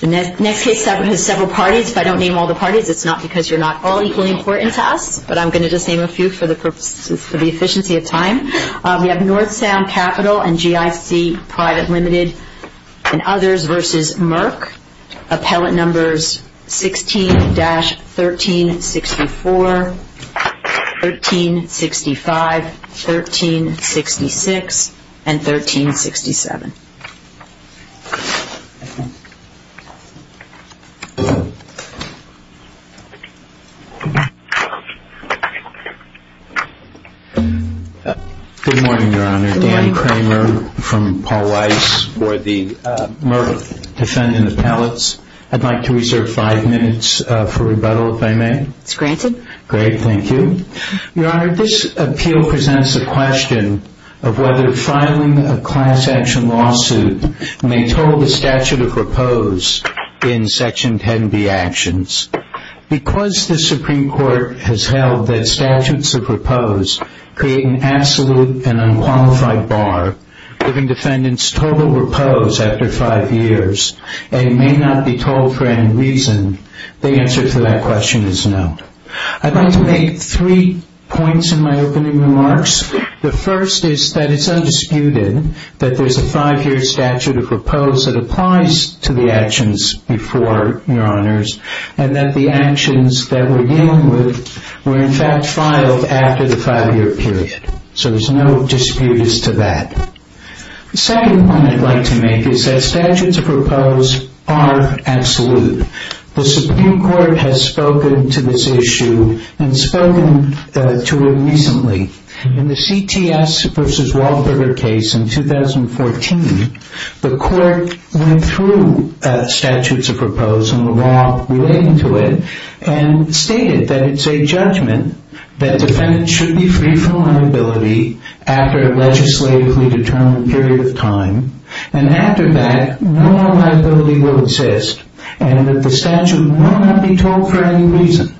The next case has several parties. If I don't name all the parties, it's not because you're not all equally important to us, but I'm going to just name a few for the efficiency of time. We have North Sound Capital and GIC Pvt. Ltd. and Others v. Merck. Appellate numbers 16-1364, 1365, 1366, and 1367. Good morning, Your Honor. Dan Kramer from Paul Weiss for the Merck defendant appellates. I'd like to reserve five minutes for rebuttal, if I may. Great, thank you. Your Honor, this appeal presents the question of whether filing a class action lawsuit may toll the statute of repose in Section 10b actions. Because the Supreme Court has held that statutes of repose create an absolute and unqualified bar, giving defendants total repose after five years and may not be told for any reason, the answer to that question is no. I'd like to make three points in my opening remarks. The first is that it's undisputed that there's a five-year statute of repose that applies to the actions before, Your Honors, and that the actions that we're dealing with were in fact filed after the five-year period. So there's no disputes to that. The second point I'd like to make is that statutes of repose are absolute. The Supreme Court has spoken to this issue and spoken to it recently. In the CTS v. Wahlberger case in 2014, the Court went through statutes of repose and the law relating to it and stated that it's a judgment that defendants should be free from liability after a legislatively disputed case. And after that, no more liability will exist and that the statute will not be told for any reason.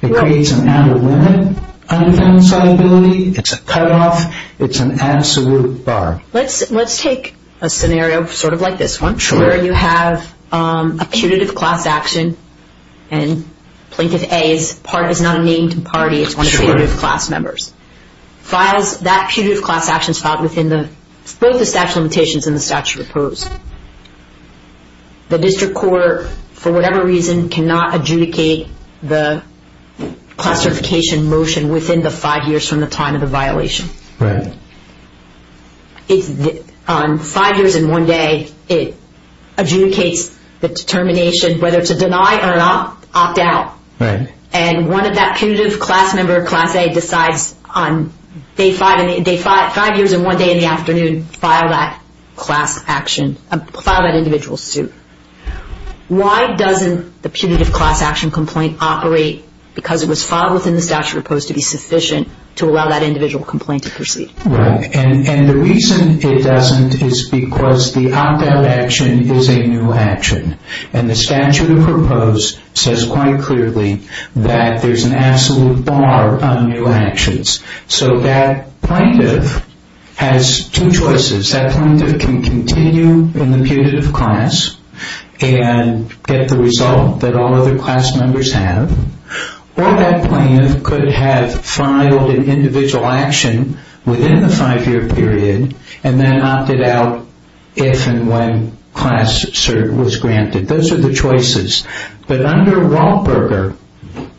It creates an out-of-limit unfound solubility. It's a cutoff. It's an absolute bar. Let's take a scenario sort of like this one where you have a putative class action and Plaintiff A is not a named party, it's one of the putative class members. That putative class action is filed within both the statute of limitations and the statute of repose. The district court, for whatever reason, cannot adjudicate the class certification motion within the five years from the time of the violation. On five years and one day, it adjudicates the determination whether to deny or not opt out. And one of that putative class member, Class A, decides on five years and one day in the afternoon to file that individual suit. Why doesn't the putative class action complaint operate because it was filed within the statute of repose to be sufficient to allow that individual complaint to proceed? Right. And the reason it doesn't is because the opt out action is a new action and the statute of repose says quite clearly that there's an absolute bar on new actions. So that plaintiff has two choices. That plaintiff can continue in the putative class and get the result that all other class members have. Or that plaintiff could have filed an individual action within the five year period and then opted out if and when class cert was granted. Those are the choices. But under Wahlberger,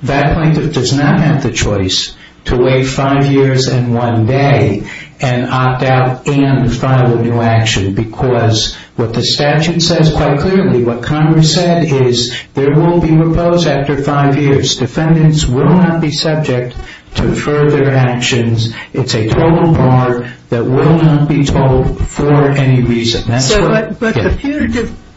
that plaintiff does not have the choice to wait five years and one day and opt out and file a new action because what the statute says quite clearly, what Congress said is there will be repose after five years. Defendants will not be subject to further actions. It's a total bar that will not be told for any reason. But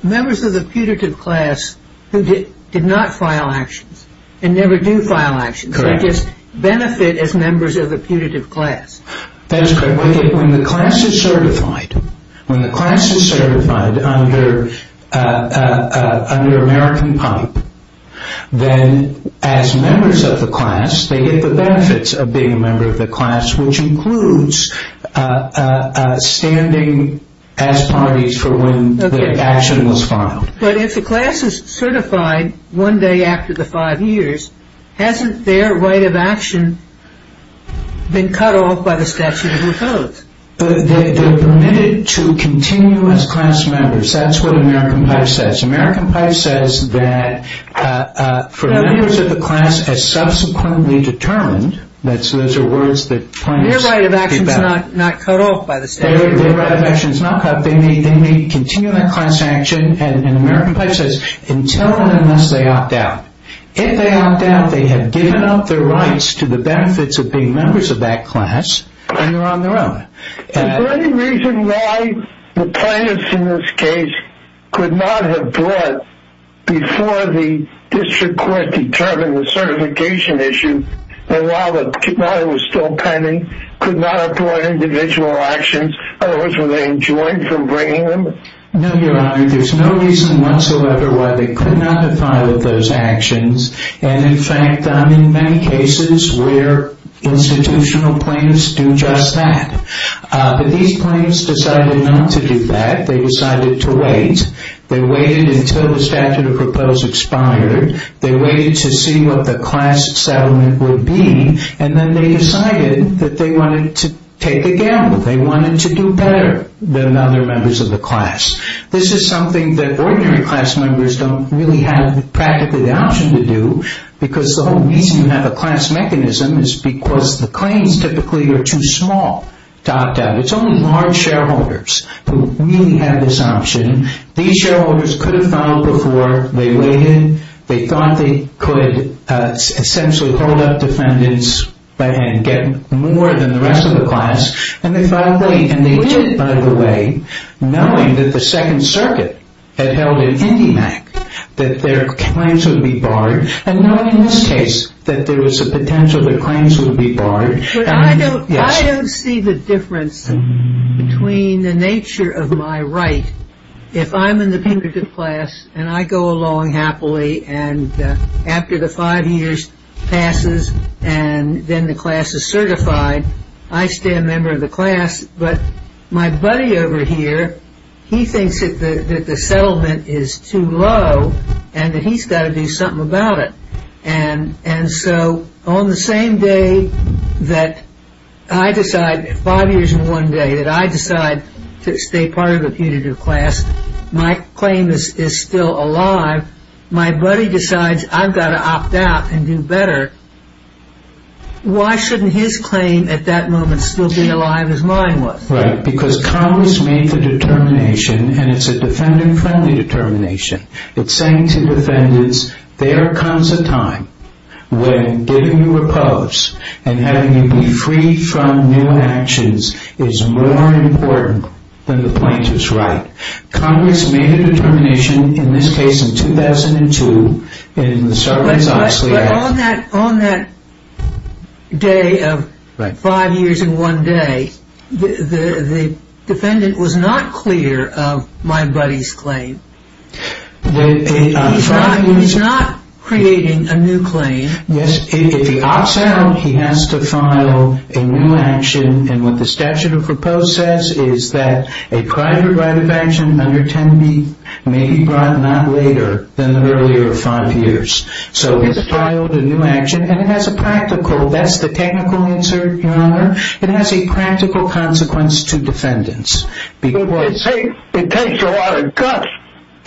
members of the putative class who did not file actions and never do file actions, they just benefit as members of the putative class. When the class is certified, when the class is certified under American PIPE, then as members of the class, they get the benefits of being a member of the class, which includes standing as parties for when the action was filed. But if the class is certified one day after the five years, hasn't their right of action been cut off by the statute of the codes? They're permitted to continue as class members. That's what American PIPE says. American PIPE says that for members of the class as subsequently determined, those are words that plaintiffs get back. Their right of action is not cut off by the statute? Their right of action is not cut off. They may continue their class action and American PIPE says until and unless they opt out. If they opt out, they have given up their rights to the benefits of being members of that class and they're on their own. Is there any reason why the plaintiffs in this case could not have brought before the district court determined the certification issue and while it was still pending, could not have brought individual actions? In other words, were they enjoined from bringing them? No, Your Honor. There's no reason whatsoever why they could not have filed those actions and in fact, in many cases, where institutional plaintiffs do just that. But these plaintiffs decided not to do that. They decided to wait. They waited until the statute of proposals expired. They waited to see what the class settlement would be and then they decided that they wanted to take a gamble. They wanted to do better than other members of the class. This is something that ordinary class members don't really have practically the option to do because the whole reason you have a class mechanism is because the claims typically are too small to opt out. It's only large shareholders who really have this option. These shareholders could have filed before. They waited. They thought they could essentially hold up defendants by hand, get more than the rest of the class and they filed late and they did by the way, knowing that the Second Circuit had held an IndyMac, that their claims would be barred and knowing in this case that there was a potential that claims would be barred. I don't see the difference between the nature of my right. If I'm in the punitive class and I go along happily and after the five years passes and then the class is certified, I stay a member of the class. But my buddy over here, he thinks that the settlement is too low and that he's got to do something about it. On the same day that I decide, five years and one day, that I decide to stay part of the punitive class, my claim is still alive. My buddy decides I've got to opt out and do better. Why shouldn't his claim at that moment still be alive as mine was? Right, because Congress made the determination and it's a defendant-friendly determination. It's saying to defendants, there comes a time when giving you repose and having you be free from new actions is more important than the plaintiff's right. Congress made a determination in this case in 2002 in the Sarbanes-Oxley Act. But on that day of five years and one day, the defendant was not clear of my buddy's claim. He's not creating a new claim. Yes, if he opts out, he has to file a new action and what the statute of repose says is that a private right of action under 10B may be brought not later than the earlier five years. So he's filed a new action and it has a practical, that's the technical answer, Your Honor. It has a practical consequence to defendants. It takes a lot of guts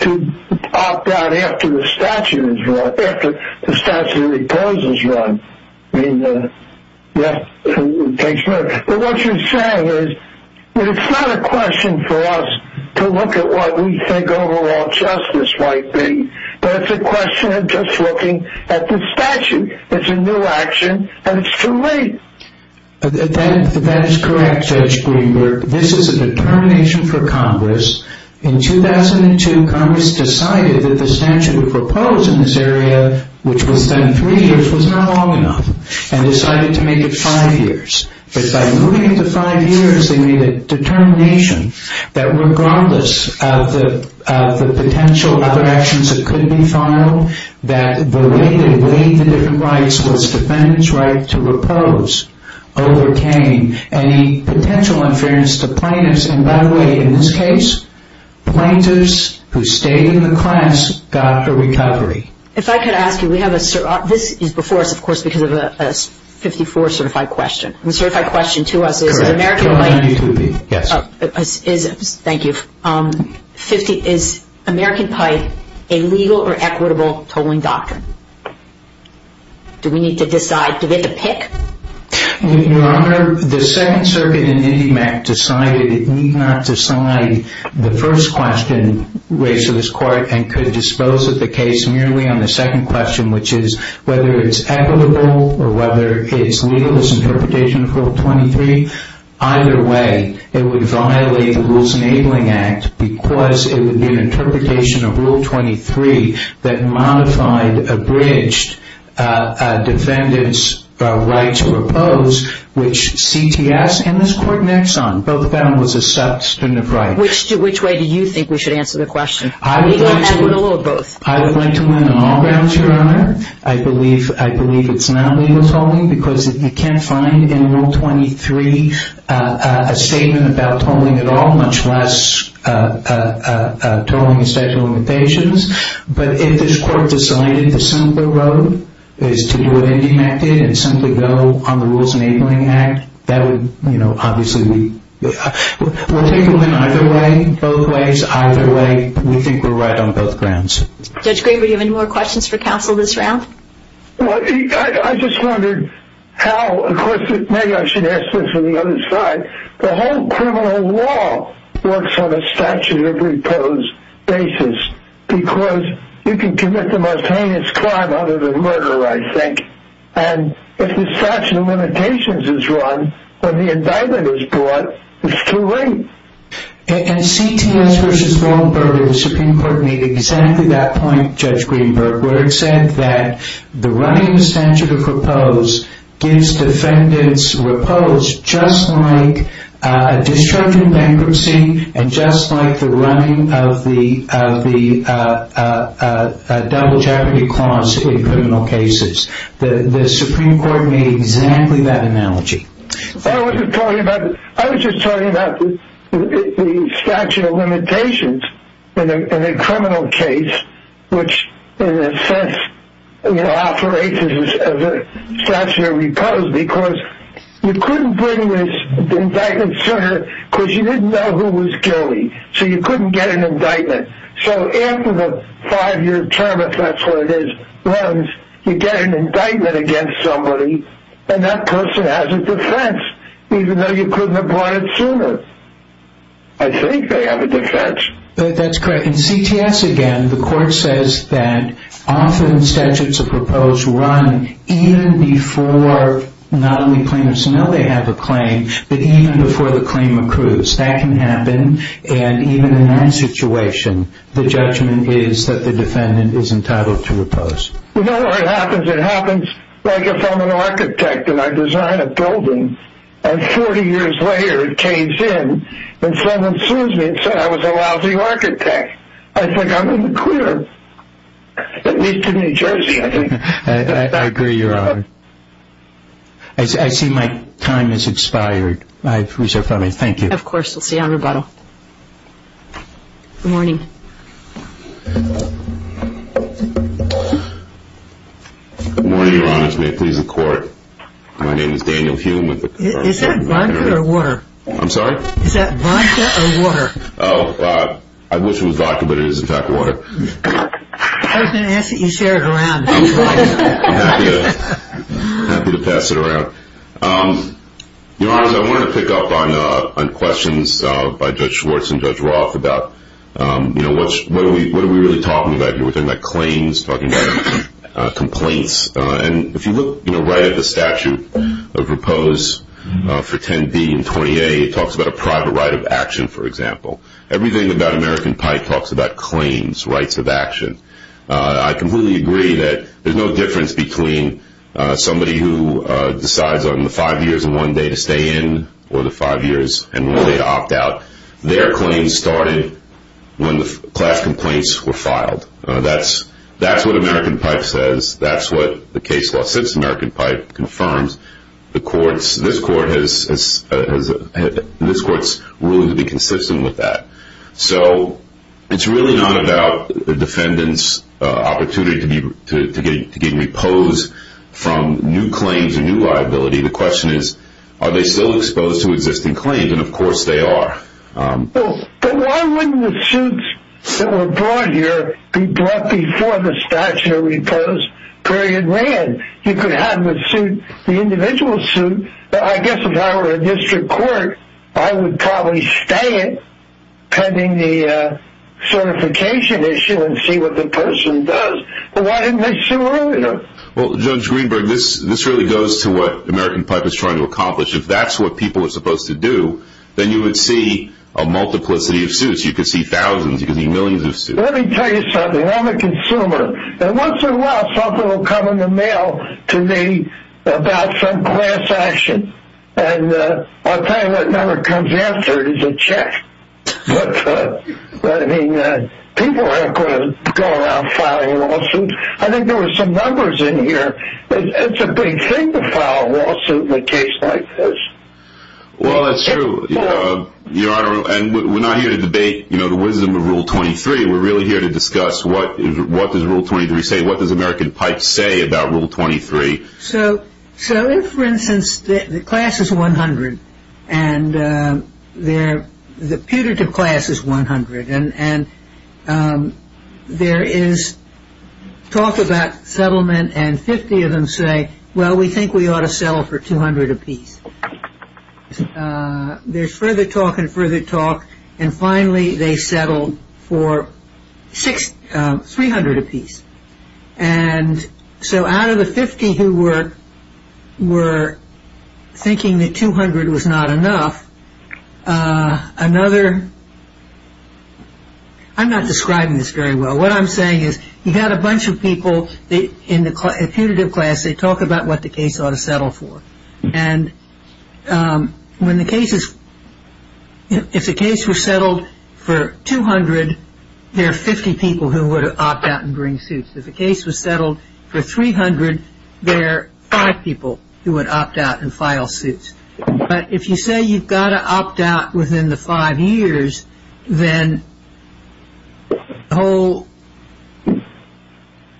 to opt out after the statute of repose is run. What you're saying is, it's not a question for us to look at what we think overall justice might be, but it's a question of just looking at the statute. It's a new action and it's too late. That is correct, Judge Greenberg. This is a determination for Congress. In 2002, Congress decided that the statute of repose in this area, which was then three years, was not long enough and decided to make it five years. But by moving it to five years, they made a determination that regardless of the potential other actions that could be filed, that the way they weighed the different rights was defendants' right to repose overcame any potential interference to plaintiffs. And by the way, in this case, plaintiffs who stayed in the class got a recovery. If I could ask you, we have a, this is before us, of course, because of a 54 certified question. The certified question to us is, is American pipe a legal or equitable tolling doctrine? Do we need to decide, do we have to pick? Your Honor, the Second Circuit in IndyMac decided it need not decide the first question raised to this court and could dispose of the case merely on the second question, which is whether it's equitable or whether it's legal as interpretation of Rule 23. Either way, it would violate the Rules Enabling Act because it would be an interpretation of Rule 23 that modified, abridged defendants' right to repose, which CTS and this Court in Exxon both found was a substantive right. Which way do you think we should answer the question? Legal or equitable or both? That would be a statement about tolling at all, much less tolling and statute of limitations. But if this Court decided the simpler road is to do what IndyMac did and simply go on the Rules Enabling Act, that would, you know, obviously, we'll take them in either way, both ways. Either way, we think we're right on both grounds. Judge Graber, do you have any more questions for counsel this round? Well, I just wondered how, of course, maybe I should ask this on the other side. The whole criminal law works on a statute of repose basis because you can commit the most heinous crime other than murder, I think. And if the statute of limitations is run, when the indictment is brought, it's too late. In CTS v. Waldenburg, the Supreme Court made exactly that point, Judge Greenberg, where it said that the running of the statute of repose gives defendants repose just like a disruptive bankruptcy and just like the running of the double jeopardy clause in criminal cases. The Supreme Court made exactly that analogy. I was just talking about the statute of limitations in a criminal case which, in a sense, operates as a statute of repose because you couldn't bring this indictment sooner because you didn't know who was guilty. So you couldn't get an indictment. So after the five-year term, if that's what it is, runs, you get an indictment against somebody and that person has a defense even though you couldn't have brought it sooner. I think they have a defense. That's correct. In CTS, again, the court says that often statutes of repose run even before not only plaintiffs know they have a claim but even before the claim accrues. That can happen. And even in that situation, the judgment is that the defendant is entitled to repose. You know what happens? It happens like if I'm an architect and I design a building and 40 years later it caves in and someone sues me and says I was a lousy architect. I think I'm in the clear. At least in New Jersey, I think. I agree, Your Honor. I see my time has expired. I've reserved for me. Thank you. Of course. We'll see you on rebuttal. Good morning. Good morning, Your Honors. May it please the Court. My name is Daniel Hume. Is that vodka or water? I'm sorry? Is that vodka or water? Oh, I wish it was vodka, but it is in fact water. I was going to ask that you share it around. I'm happy to pass it around. Your Honors, I wanted to pick up on questions by Judge Schwartz and Judge Roth about what are we really talking about here? We're talking about claims, talking about complaints. And if you look right at the statute of repose for 10b and 20a, it talks about a private right of action, for example. Everything about American Pi talks about claims, rights of action. I completely agree that there's no difference between somebody who decides on the five years and one day to stay in or the five years and one day to opt out. Their claim started when the class complaints were filed. That's what American Pi says. That's what the case law since American Pi confirms. This Court is willing to be consistent with that. It's really not about the defendant's opportunity to get repose from new claims or new liability. The question is, are they still exposed to existing claims? And, of course, they are. But why wouldn't the suits that were brought here be brought before the statute of repose period ran? You could have the suit, the individual suit. I guess if I were a district court, I would probably stay pending the certification issue and see what the person does. But why didn't they sue earlier? Well, Judge Greenberg, this really goes to what American Pi was trying to accomplish. If that's what people were supposed to do, then you would see a multiplicity of suits. You could see thousands. You could see millions of suits. Let me tell you something. I'm a consumer. Once in a while, something will come in the mail to me about some class action. And I'll tell you what number comes after it is a check. But, I mean, people aren't going to go around filing lawsuits. I think there were some numbers in here. It's a big thing to file a lawsuit in a case like this. Well, that's true. And we're not here to debate the wisdom of Rule 23. We're really here to discuss what does Rule 23 say? What does American Pi say about Rule 23? So if, for instance, the class is 100 and the putative class is 100 and there is talk about settlement and 50 of them say, well, we think we ought to settle for 200 apiece. There's further talk and further talk. And finally, they settled for 300 apiece. And so out of the 50 who were thinking that 200 was not enough, another, I'm not describing this very well. What I'm saying is you've got a bunch of people in the putative class. They talk about what the case ought to settle for. And when the case is, if the case was settled for 200, there are 50 people who would opt out and bring suits. If the case was settled for 300, there are five people who would opt out and file suits. But if you say you've got to opt out within the five years, then the whole...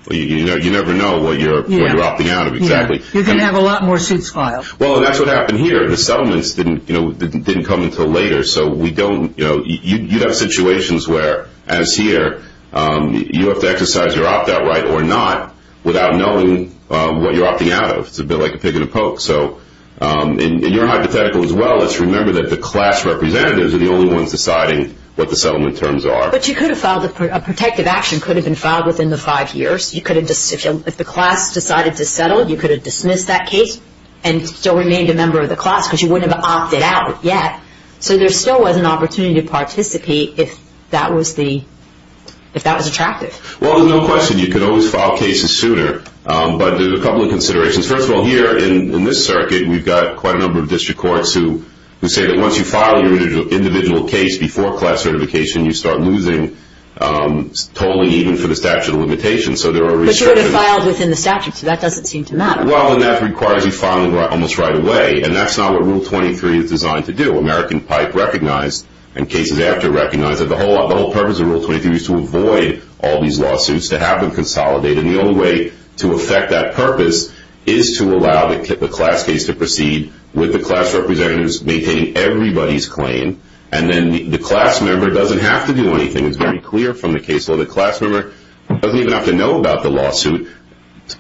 Well, you never know what you're opting out of exactly. You're going to have a lot more suits filed. Well, and that's what happened here. The settlements didn't come until later, so we don't... You'd have situations where, as here, you have to exercise your opt-out right or not without knowing what you're opting out of. It's a bit like a pick and a poke. So in your hypothetical as well, let's remember that the class representatives are the only ones deciding what the settlement terms are. But you could have filed... A protective action could have been filed within the five years. If the class decided to settle, you could have dismissed that case and still remained a member of the class because you wouldn't have opted out yet. So there still was an opportunity to participate if that was attractive. Well, there's no question you could always file cases sooner, but there's a couple of considerations. First of all, here in this circuit, we've got quite a number of district courts who say that once you file your individual case before class certification, you start losing totally even for the statute of limitations. But you would have filed within the statute, so that doesn't seem to matter. Well, and that requires you filing almost right away, and that's not what Rule 23 is designed to do. American Pipe recognized and cases after recognized that the whole purpose of Rule 23 is to avoid all these lawsuits, to have them consolidate. And the only way to affect that purpose is to allow the class case to proceed with the class representatives maintaining everybody's claim, and then the class member doesn't have to do anything. It's very clear from the case law that the class member doesn't even have to know about the lawsuit,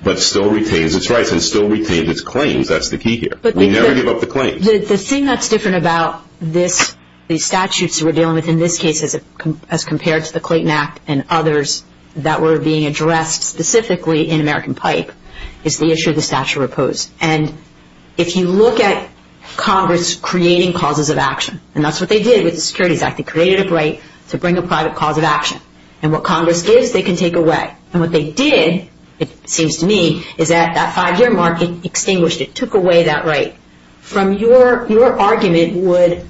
but still retains its rights and still retains its claims. That's the key here. We never give up the claims. The thing that's different about the statutes we're dealing with in this case as compared to the Clayton Act and others that were being addressed specifically in American Pipe is the issue of the statute of repose. And if you look at Congress creating causes of action, and that's what they did with the Securities Act. They created a right to bring a private cause of action. And what Congress gives, they can take away. And what they did, it seems to me, is that that five-year mark, it extinguished, it took away that right. From your argument would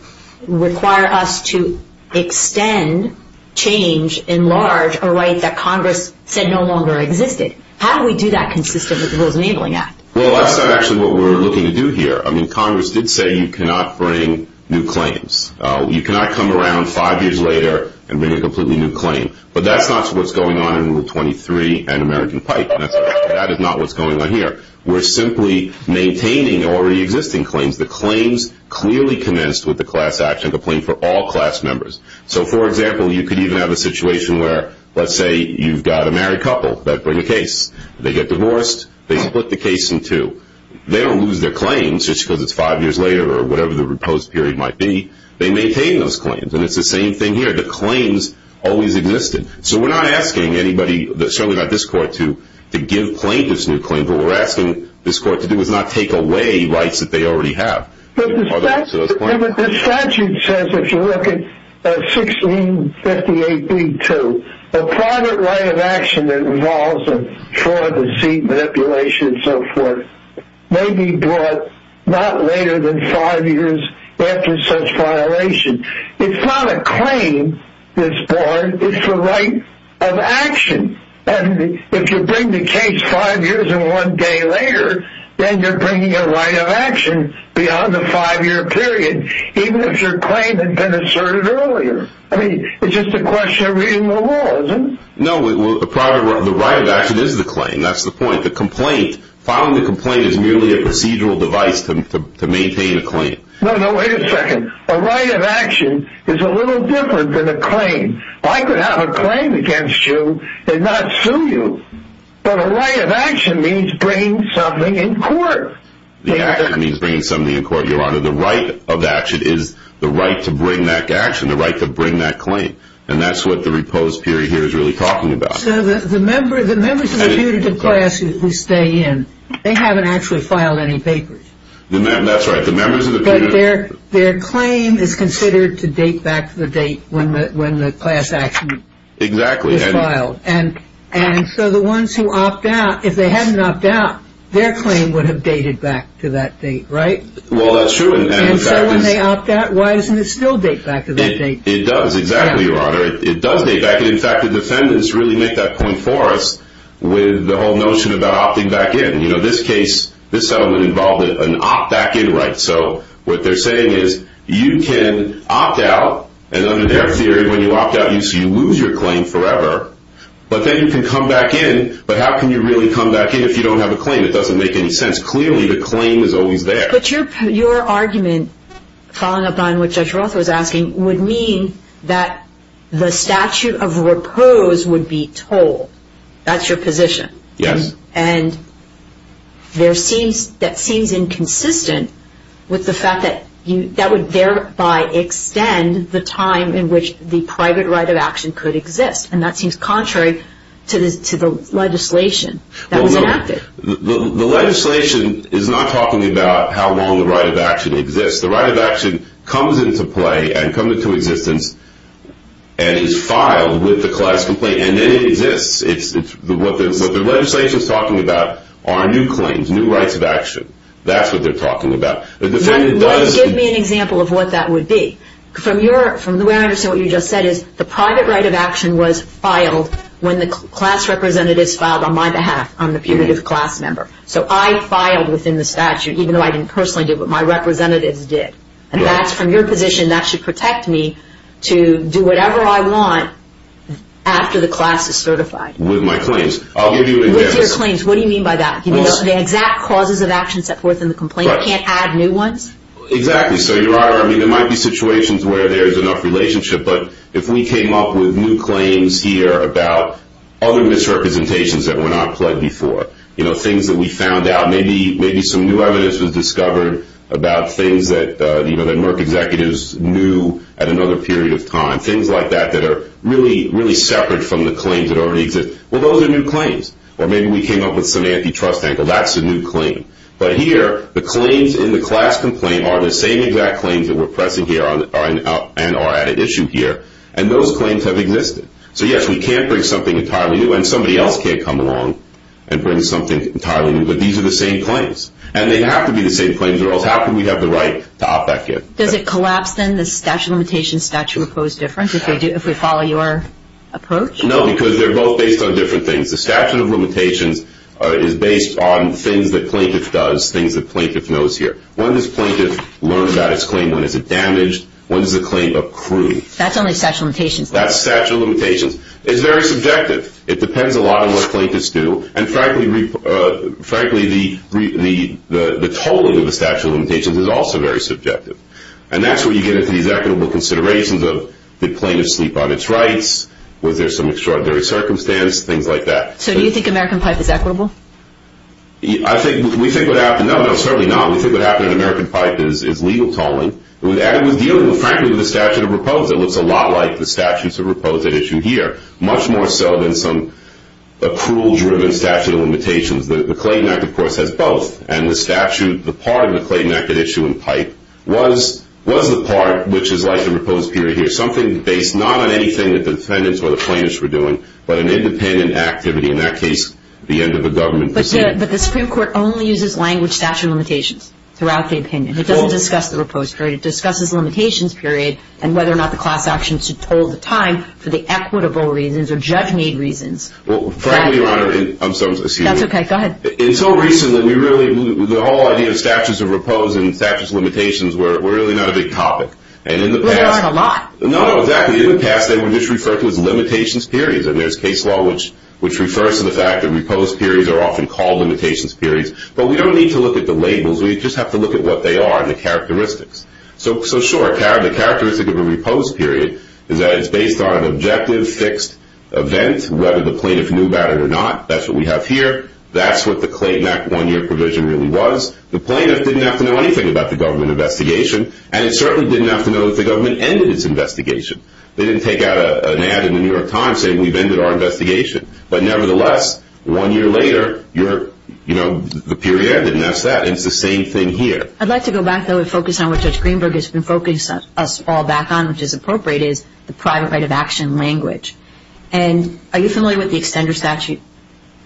require us to extend, change, enlarge a right that Congress said no longer existed. How do we do that consistent with the Rules of Enabling Act? Well, that's not actually what we're looking to do here. I mean, Congress did say you cannot bring new claims. You cannot come around five years later and bring a completely new claim. But that's not what's going on in Rule 23 and American Pipe. That is not what's going on here. We're simply maintaining already existing claims. The claims clearly commenced with the class action complaint for all class members. So, for example, you could even have a situation where, let's say, you've got a married couple that bring a case. They get divorced. They split the case in two. They don't lose their claims just because it's five years later or whatever the reposed period might be. They maintain those claims. And it's the same thing here. The claims always existed. So we're not asking anybody, certainly not this Court, to give plaintiffs new claims. What we're asking this Court to do is not take away rights that they already have. The statute says, if you look at 1658b-2, a private right of action that involves fraud, deceit, manipulation, and so forth may be brought not later than five years after such violation. It's not a claim that's brought. It's a right of action. And if you bring the case five years and one day later, then you're bringing a right of action beyond the five-year period, even if your claim had been asserted earlier. I mean, it's just a question of reading the law, isn't it? No, the right of action is the claim. That's the point. The complaint, filing the complaint is merely a procedural device to maintain a claim. No, no, wait a second. A right of action is a little different than a claim. I could have a claim against you and not sue you, but a right of action means bringing something in court. The right of action means bringing something in court, Your Honor. The right of action is the right to bring that action, the right to bring that claim. And that's what the repose period here is really talking about. So the members of the putative class who stay in, they haven't actually filed any papers. That's right. But their claim is considered to date back to the date when the class action is filed. Exactly. And so the ones who opt out, if they hadn't opted out, their claim would have dated back to that date, right? Well, that's true. And so when they opt out, why doesn't it still date back to that date? It does. Exactly, Your Honor. It does date back. And, in fact, the defendants really make that point for us with the whole notion about opting back in. You know, this case, this settlement involved an opt-back-in right. So what they're saying is you can opt out, and under their theory, when you opt out, you lose your claim forever. But then you can come back in, but how can you really come back in if you don't have a claim? It doesn't make any sense. Clearly, the claim is always there. But your argument, following up on what Judge Roth was asking, would mean that the statute of repose would be told. That's your position. Yes. And that seems inconsistent with the fact that that would thereby extend the time in which the private right of action could exist. And that seems contrary to the legislation that was enacted. The legislation is not talking about how long the right of action exists. The right of action comes into play and comes into existence and is filed with the class complaint, and then it exists. What the legislation is talking about are new claims, new rights of action. That's what they're talking about. Let's give me an example of what that would be. From where I understand what you just said is the private right of action was filed when the class representatives filed on my behalf. I'm the punitive class member. So I filed within the statute, even though I didn't personally do it, but my representatives did. And that's from your position. That should protect me to do whatever I want after the class is certified. With my claims. I'll give you an example. With your claims. What do you mean by that? Do you mean the exact causes of action set forth in the complaint? You can't add new ones? Exactly. So, Your Honor, I mean, there might be situations where there is enough relationship. But if we came up with new claims here about other misrepresentations that were not pled before, you know, things that we found out, maybe some new evidence was discovered about things that Merck executives knew at another period of time. Things like that that are really, really separate from the claims that already exist. Well, those are new claims. Or maybe we came up with some antitrust angle. That's a new claim. But here, the claims in the class complaint are the same exact claims that we're pressing here and are at issue here. And those claims have existed. So, yes, we can't bring something entirely new. And somebody else can't come along and bring something entirely new. But these are the same claims. And they have to be the same claims or else how can we have the right to opt back in? Does it collapse, then, the statute of limitations, statute of proposed difference if we follow your approach? No, because they're both based on different things. The statute of limitations is based on things that plaintiff does, things that plaintiff knows here. When does plaintiff learn about his claim? When is it damaged? When does the claim accrue? That's only statute of limitations. That's statute of limitations. It's very subjective. It depends a lot on what plaintiffs do. And, frankly, the tolling of the statute of limitations is also very subjective. And that's where you get into these equitable considerations of did plaintiff sleep on its rights? Was there some extraordinary circumstance? Things like that. So do you think American Pipe is equitable? I think we think what happened – no, no, certainly not. We think what happened in American Pipe is legal tolling. It was dealing, frankly, with the statute of proposed. It looks a lot like the statutes of proposed at issue here, much more so than some accrual-driven statute of limitations. The Clayton Act, of course, has both. And the statute – the part of the Clayton Act at issue in Pipe was the part, which is like the proposed period here, something based not on anything that the defendants or the plaintiffs were doing, but an independent activity, in that case, the end of a government proceeding. But the Supreme Court only uses language statute of limitations throughout the opinion. It doesn't discuss the proposed period. It discusses limitations period and whether or not the class action should toll the time for the equitable reasons or judge-made reasons. Well, frankly, Your Honor – I'm sorry, excuse me. That's okay. Go ahead. Until recently, we really – the whole idea of statutes of proposed and statutes of limitations were really not a big topic. And in the past – Well, there aren't a lot. No, no, exactly. In the past, they were just referred to as limitations periods. And there's case law which refers to the fact that proposed periods are often called limitations periods. We just have to look at what they are and the characteristics. So, sure, the characteristic of a proposed period is that it's based on an objective, fixed event, whether the plaintiff knew about it or not. That's what we have here. That's what the Clayton Act one-year provision really was. The plaintiff didn't have to know anything about the government investigation, and it certainly didn't have to know that the government ended its investigation. They didn't take out an ad in the New York Times saying we've ended our investigation. But nevertheless, one year later, you're – you know, the period didn't ask that. It's the same thing here. I'd like to go back, though, and focus on what Judge Greenberg has been focusing us all back on, which is appropriate, is the private right of action language. And are you familiar with the extender statute?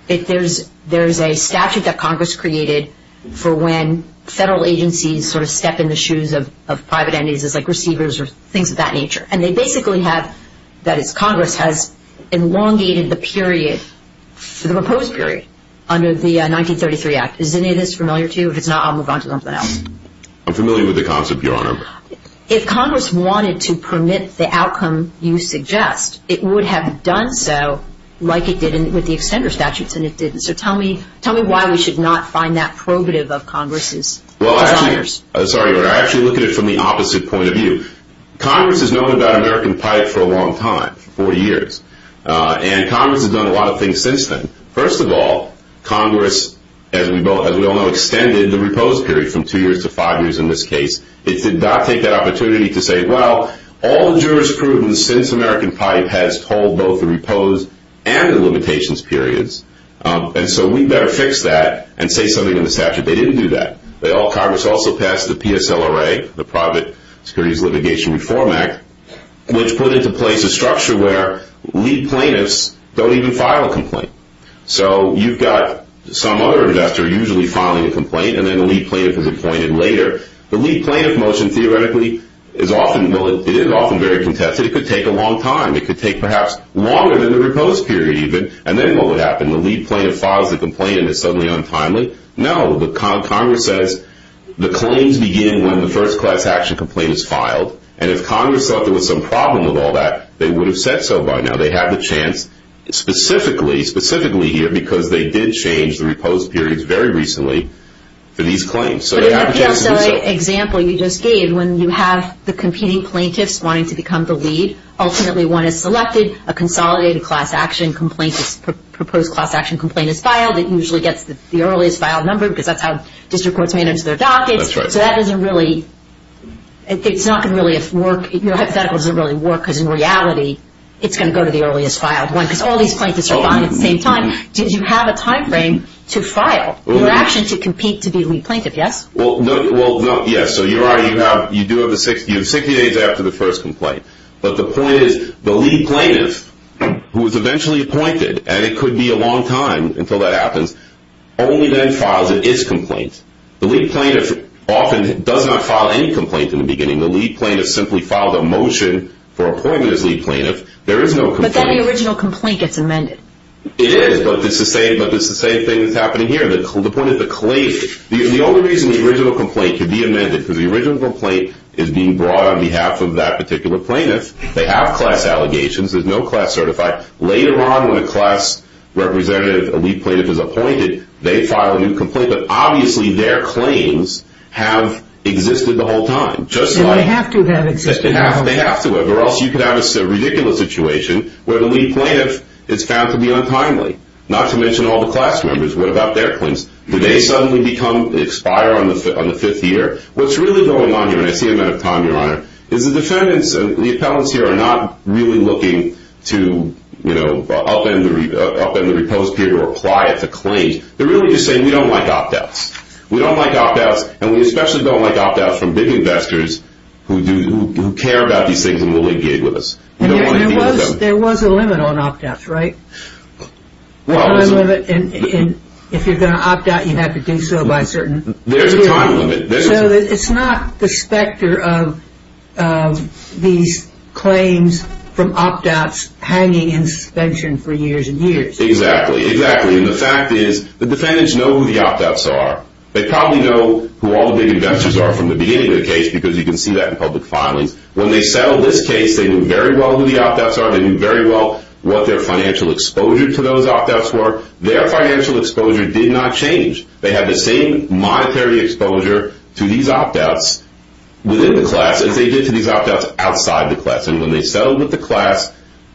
There's a statute that Congress created for when federal agencies sort of step in the shoes of private entities like receivers or things of that nature. And they basically have – that is, Congress has elongated the period, the proposed period, under the 1933 Act. Is any of this familiar to you? If it's not, I'll move on to something else. I'm familiar with the concept, Your Honor. If Congress wanted to permit the outcome you suggest, it would have done so like it did with the extender statutes, and it didn't. So tell me why we should not find that probative of Congress's. Well, I actually – sorry, Your Honor. I actually look at it from the opposite point of view. Congress has known about American pipe for a long time, 40 years, and Congress has done a lot of things since then. First of all, Congress, as we all know, extended the proposed period from two years to five years in this case. It did not take that opportunity to say, well, all the jurisprudence since American pipe has told both the proposed and the limitations periods, and so we better fix that and say something in the statute. They didn't do that. Congress also passed the PSLRA, the Private Securities Litigation Reform Act, which put into place a structure where lead plaintiffs don't even file a complaint. So you've got some other investor usually filing a complaint, and then the lead plaintiff is appointed later. The lead plaintiff motion theoretically is often – well, it is often very contested. It could take a long time. It could take perhaps longer than the proposed period even, and then what would happen? The lead plaintiff files the complaint, and it's suddenly untimely? Congress says the claims begin when the first class action complaint is filed, and if Congress thought there was some problem with all that, they would have said so by now. They have the chance specifically, specifically here because they did change the reposed periods very recently for these claims. So they have a chance to do so. But in the PSLRA example you just gave, when you have the competing plaintiffs wanting to become the lead, ultimately one is selected, a consolidated class action complaint is – a proposed class action complaint is filed. It usually gets the earliest filed number because that's how district courts manage their dockets. That's right. It's not going to really work. Your hypothetical doesn't really work because in reality it's going to go to the earliest filed one because all these plaintiffs are filing at the same time. Did you have a timeframe to file your action to compete to be lead plaintiff? Yes? Well, yes. So you do have 60 days after the first complaint. But the point is the lead plaintiff, who is eventually appointed, and it could be a long time until that happens, only then files its complaint. The lead plaintiff often does not file any complaint in the beginning. The lead plaintiff simply filed a motion for appointment as lead plaintiff. There is no complaint. But then the original complaint gets amended. It is, but it's the same thing that's happening here. The only reason the original complaint could be amended, because the original complaint is being brought on behalf of that particular plaintiff. They have class allegations. There's no class certified. Later on when a class representative, a lead plaintiff, is appointed, they file a new complaint. But obviously their claims have existed the whole time. They have to have existed the whole time. They have to have, or else you could have a ridiculous situation where the lead plaintiff is found to be untimely, not to mention all the class members. What about their claims? Do they suddenly expire on the fifth year? What's really going on here, and I see I'm out of time, Your Honor, is the defendants and the appellants here are not really looking to upend the reposed period or apply it to claims. They're really just saying, we don't like opt-outs. We don't like opt-outs, and we especially don't like opt-outs from big investors who care about these things and will negate with us. There was a limit on opt-outs, right? Well, there's a limit, and if you're going to opt-out, you have to do so by a certain period. There's a time limit. So it's not the specter of these claims from opt-outs hanging in suspension for years and years. Exactly, exactly. And the fact is the defendants know who the opt-outs are. They probably know who all the big investors are from the beginning of the case because you can see that in public filings. When they settled this case, they knew very well who the opt-outs are. They knew very well what their financial exposure to those opt-outs were. Their financial exposure did not change. They had the same monetary exposure to these opt-outs within the class as they did to these opt-outs outside the class. And when they settled with the class,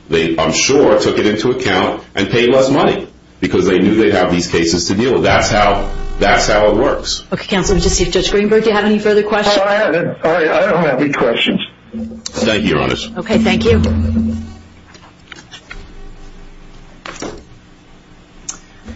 they, I'm sure, took it into account and paid less money because they knew they'd have these cases to deal with. That's how it works. Okay, Counselor, let's just see if Judge Greenberg, do you have any further questions? I don't have any questions. Thank you, Your Honor. Okay, thank you.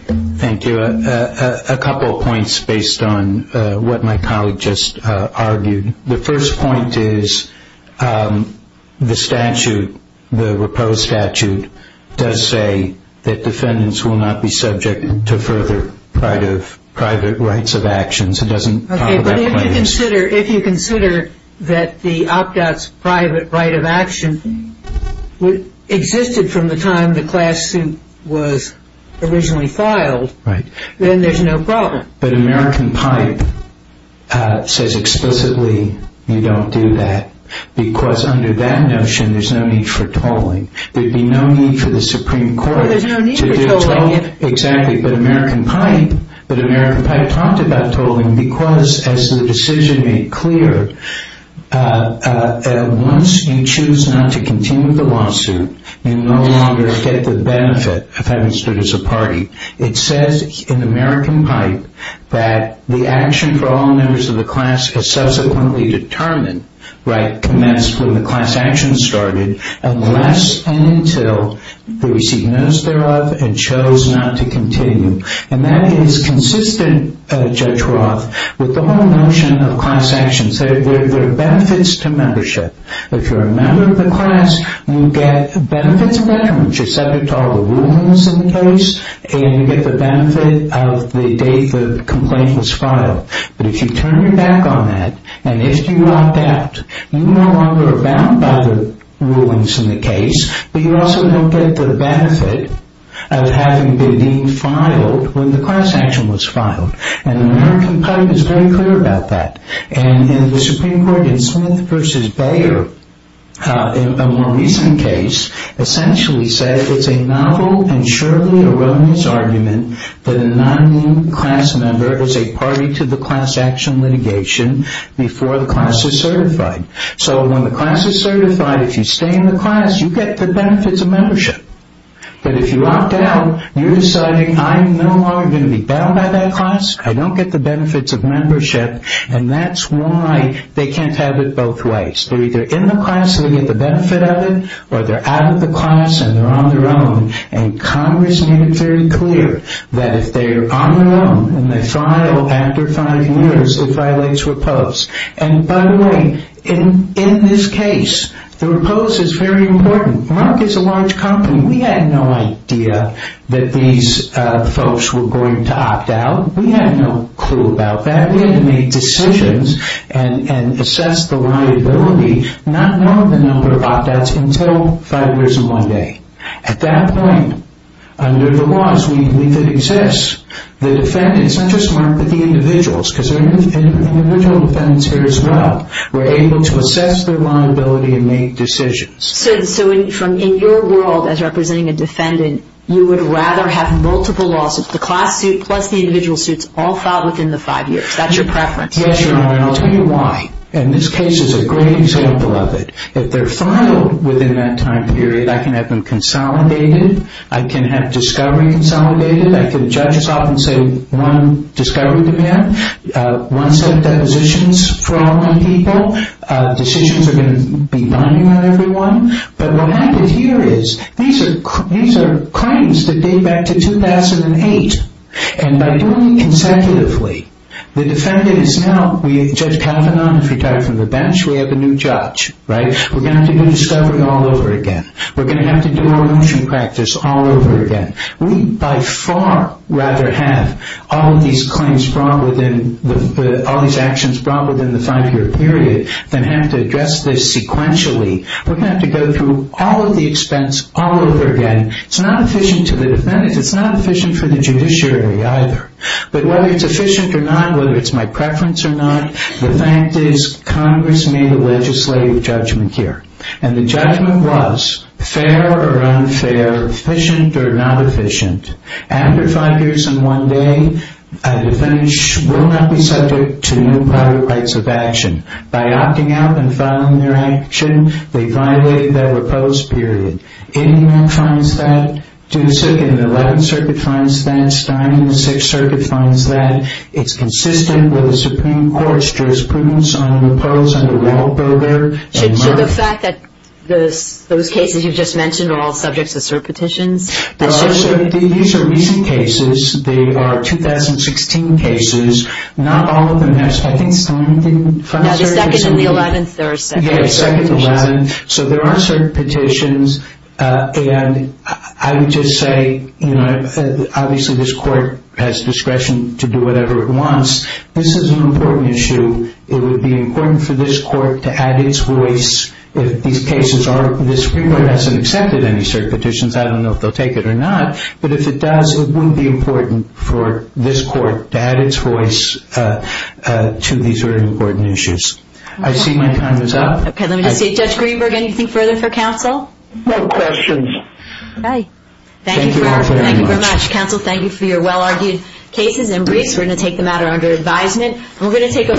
Thank you. A couple of points based on what my colleague just argued. The first point is the statute, the proposed statute, does say that defendants will not be subject to further private rights of actions. It doesn't talk about claims. Okay, but if you consider that the opt-out's private right of action existed from the time the class suit was originally filed, then there's no problem. But American Pipe says explicitly you don't do that because under that notion there's no need for tolling. There'd be no need for the Supreme Court to do tolling. There's no need for tolling. Exactly, but American Pipe talked about tolling because, as the decision made clear, once you choose not to continue the lawsuit, you no longer get the benefit of having stood as a party. It says in American Pipe that the action for all members of the class is subsequently determined, right, commenced when the class action started, unless and until they receive notice thereof and chose not to continue. And that is consistent, Judge Roth, with the whole notion of class actions. There are benefits to membership. If you're a member of the class, you get benefits of veterans. You're subject to all the rulings in the case, and you get the benefit of the day the complaint was filed. But if you turn your back on that, and if you opt out, you no longer are bound by the rulings in the case, but you also don't get the benefit of having been filed when the class action was filed. And American Pipe is very clear about that. And the Supreme Court in Smith v. Bayer, in a more recent case, essentially said it's a novel and surely erroneous argument that a non-new class member is a party to the class action litigation before the class is certified. So when the class is certified, if you stay in the class, you get the benefits of membership. But if you opt out, you're deciding I'm no longer going to be bound by that class, I don't get the benefits of membership, and that's why they can't have it both ways. They're either in the class so they get the benefit of it, or they're out of the class and they're on their own. And Congress made it very clear that if they're on their own, and they file after five years, it violates repose. And by the way, in this case, the repose is very important. Monarch is a large company. We had no idea that these folks were going to opt out. We had no clue about that. So we had to make decisions and assess the liability, not knowing the number of opt-outs until five years and one day. At that point, under the laws, we believe it exists. The defendants, not just Monarch, but the individuals, because there are individual defendants here as well, were able to assess their liability and make decisions. So in your world as representing a defendant, you would rather have multiple lawsuits, the class suit plus the individual suits, all filed within the five years. That's your preference. Yes, Your Honor, and I'll tell you why. And this case is a great example of it. If they're filed within that time period, I can have them consolidated. I can have discovery consolidated. I can judge us off and say one discovery demand, one set of depositions for all nine people. Decisions are going to be binding on everyone. But what happened here is these are claims that date back to 2008. And by doing it consecutively, the defendant is now, Judge Kavanaugh, retired from the bench, we have a new judge, right? We're going to have to do discovery all over again. We're going to have to do our motion practice all over again. We by far rather have all of these claims brought within, all these actions brought within the five-year period than have to address this sequentially. We're going to have to go through all of the expense all over again. It's not efficient to the defendants. It's not efficient for the judiciary either. But whether it's efficient or not, whether it's my preference or not, the fact is Congress made a legislative judgment here. And the judgment was fair or unfair, efficient or not efficient. After five years and one day, a defendant will not be subject to new prior rights of action. By opting out and filing their action, they violate their repose period. Anyone finds that? The 11th Circuit finds that. Stein in the 6th Circuit finds that. It's consistent with the Supreme Court's jurisprudence on a repose under Wahlberger and Murph. So the fact that those cases you just mentioned are all subjects of cert petitions? These are recent cases. They are 2016 cases. Not all of them have certs. I think Stein didn't find cert petitions. No, the 2nd and the 11th, there are cert petitions. Yeah, 2nd and 11th. So there are cert petitions. And I would just say, you know, obviously this Court has discretion to do whatever it wants. This is an important issue. It would be important for this Court to add its voice if these cases are... The Supreme Court hasn't accepted any cert petitions. I don't know if they'll take it or not. But if it does, it would be important for this Court to add its voice to these very important issues. I see my time is up. Okay, let me just see. Judge Greenberg, anything further for counsel? No questions. Thank you very much. Counsel, thank you for your well-argued cases and briefs. We're going to take the matter under advisement.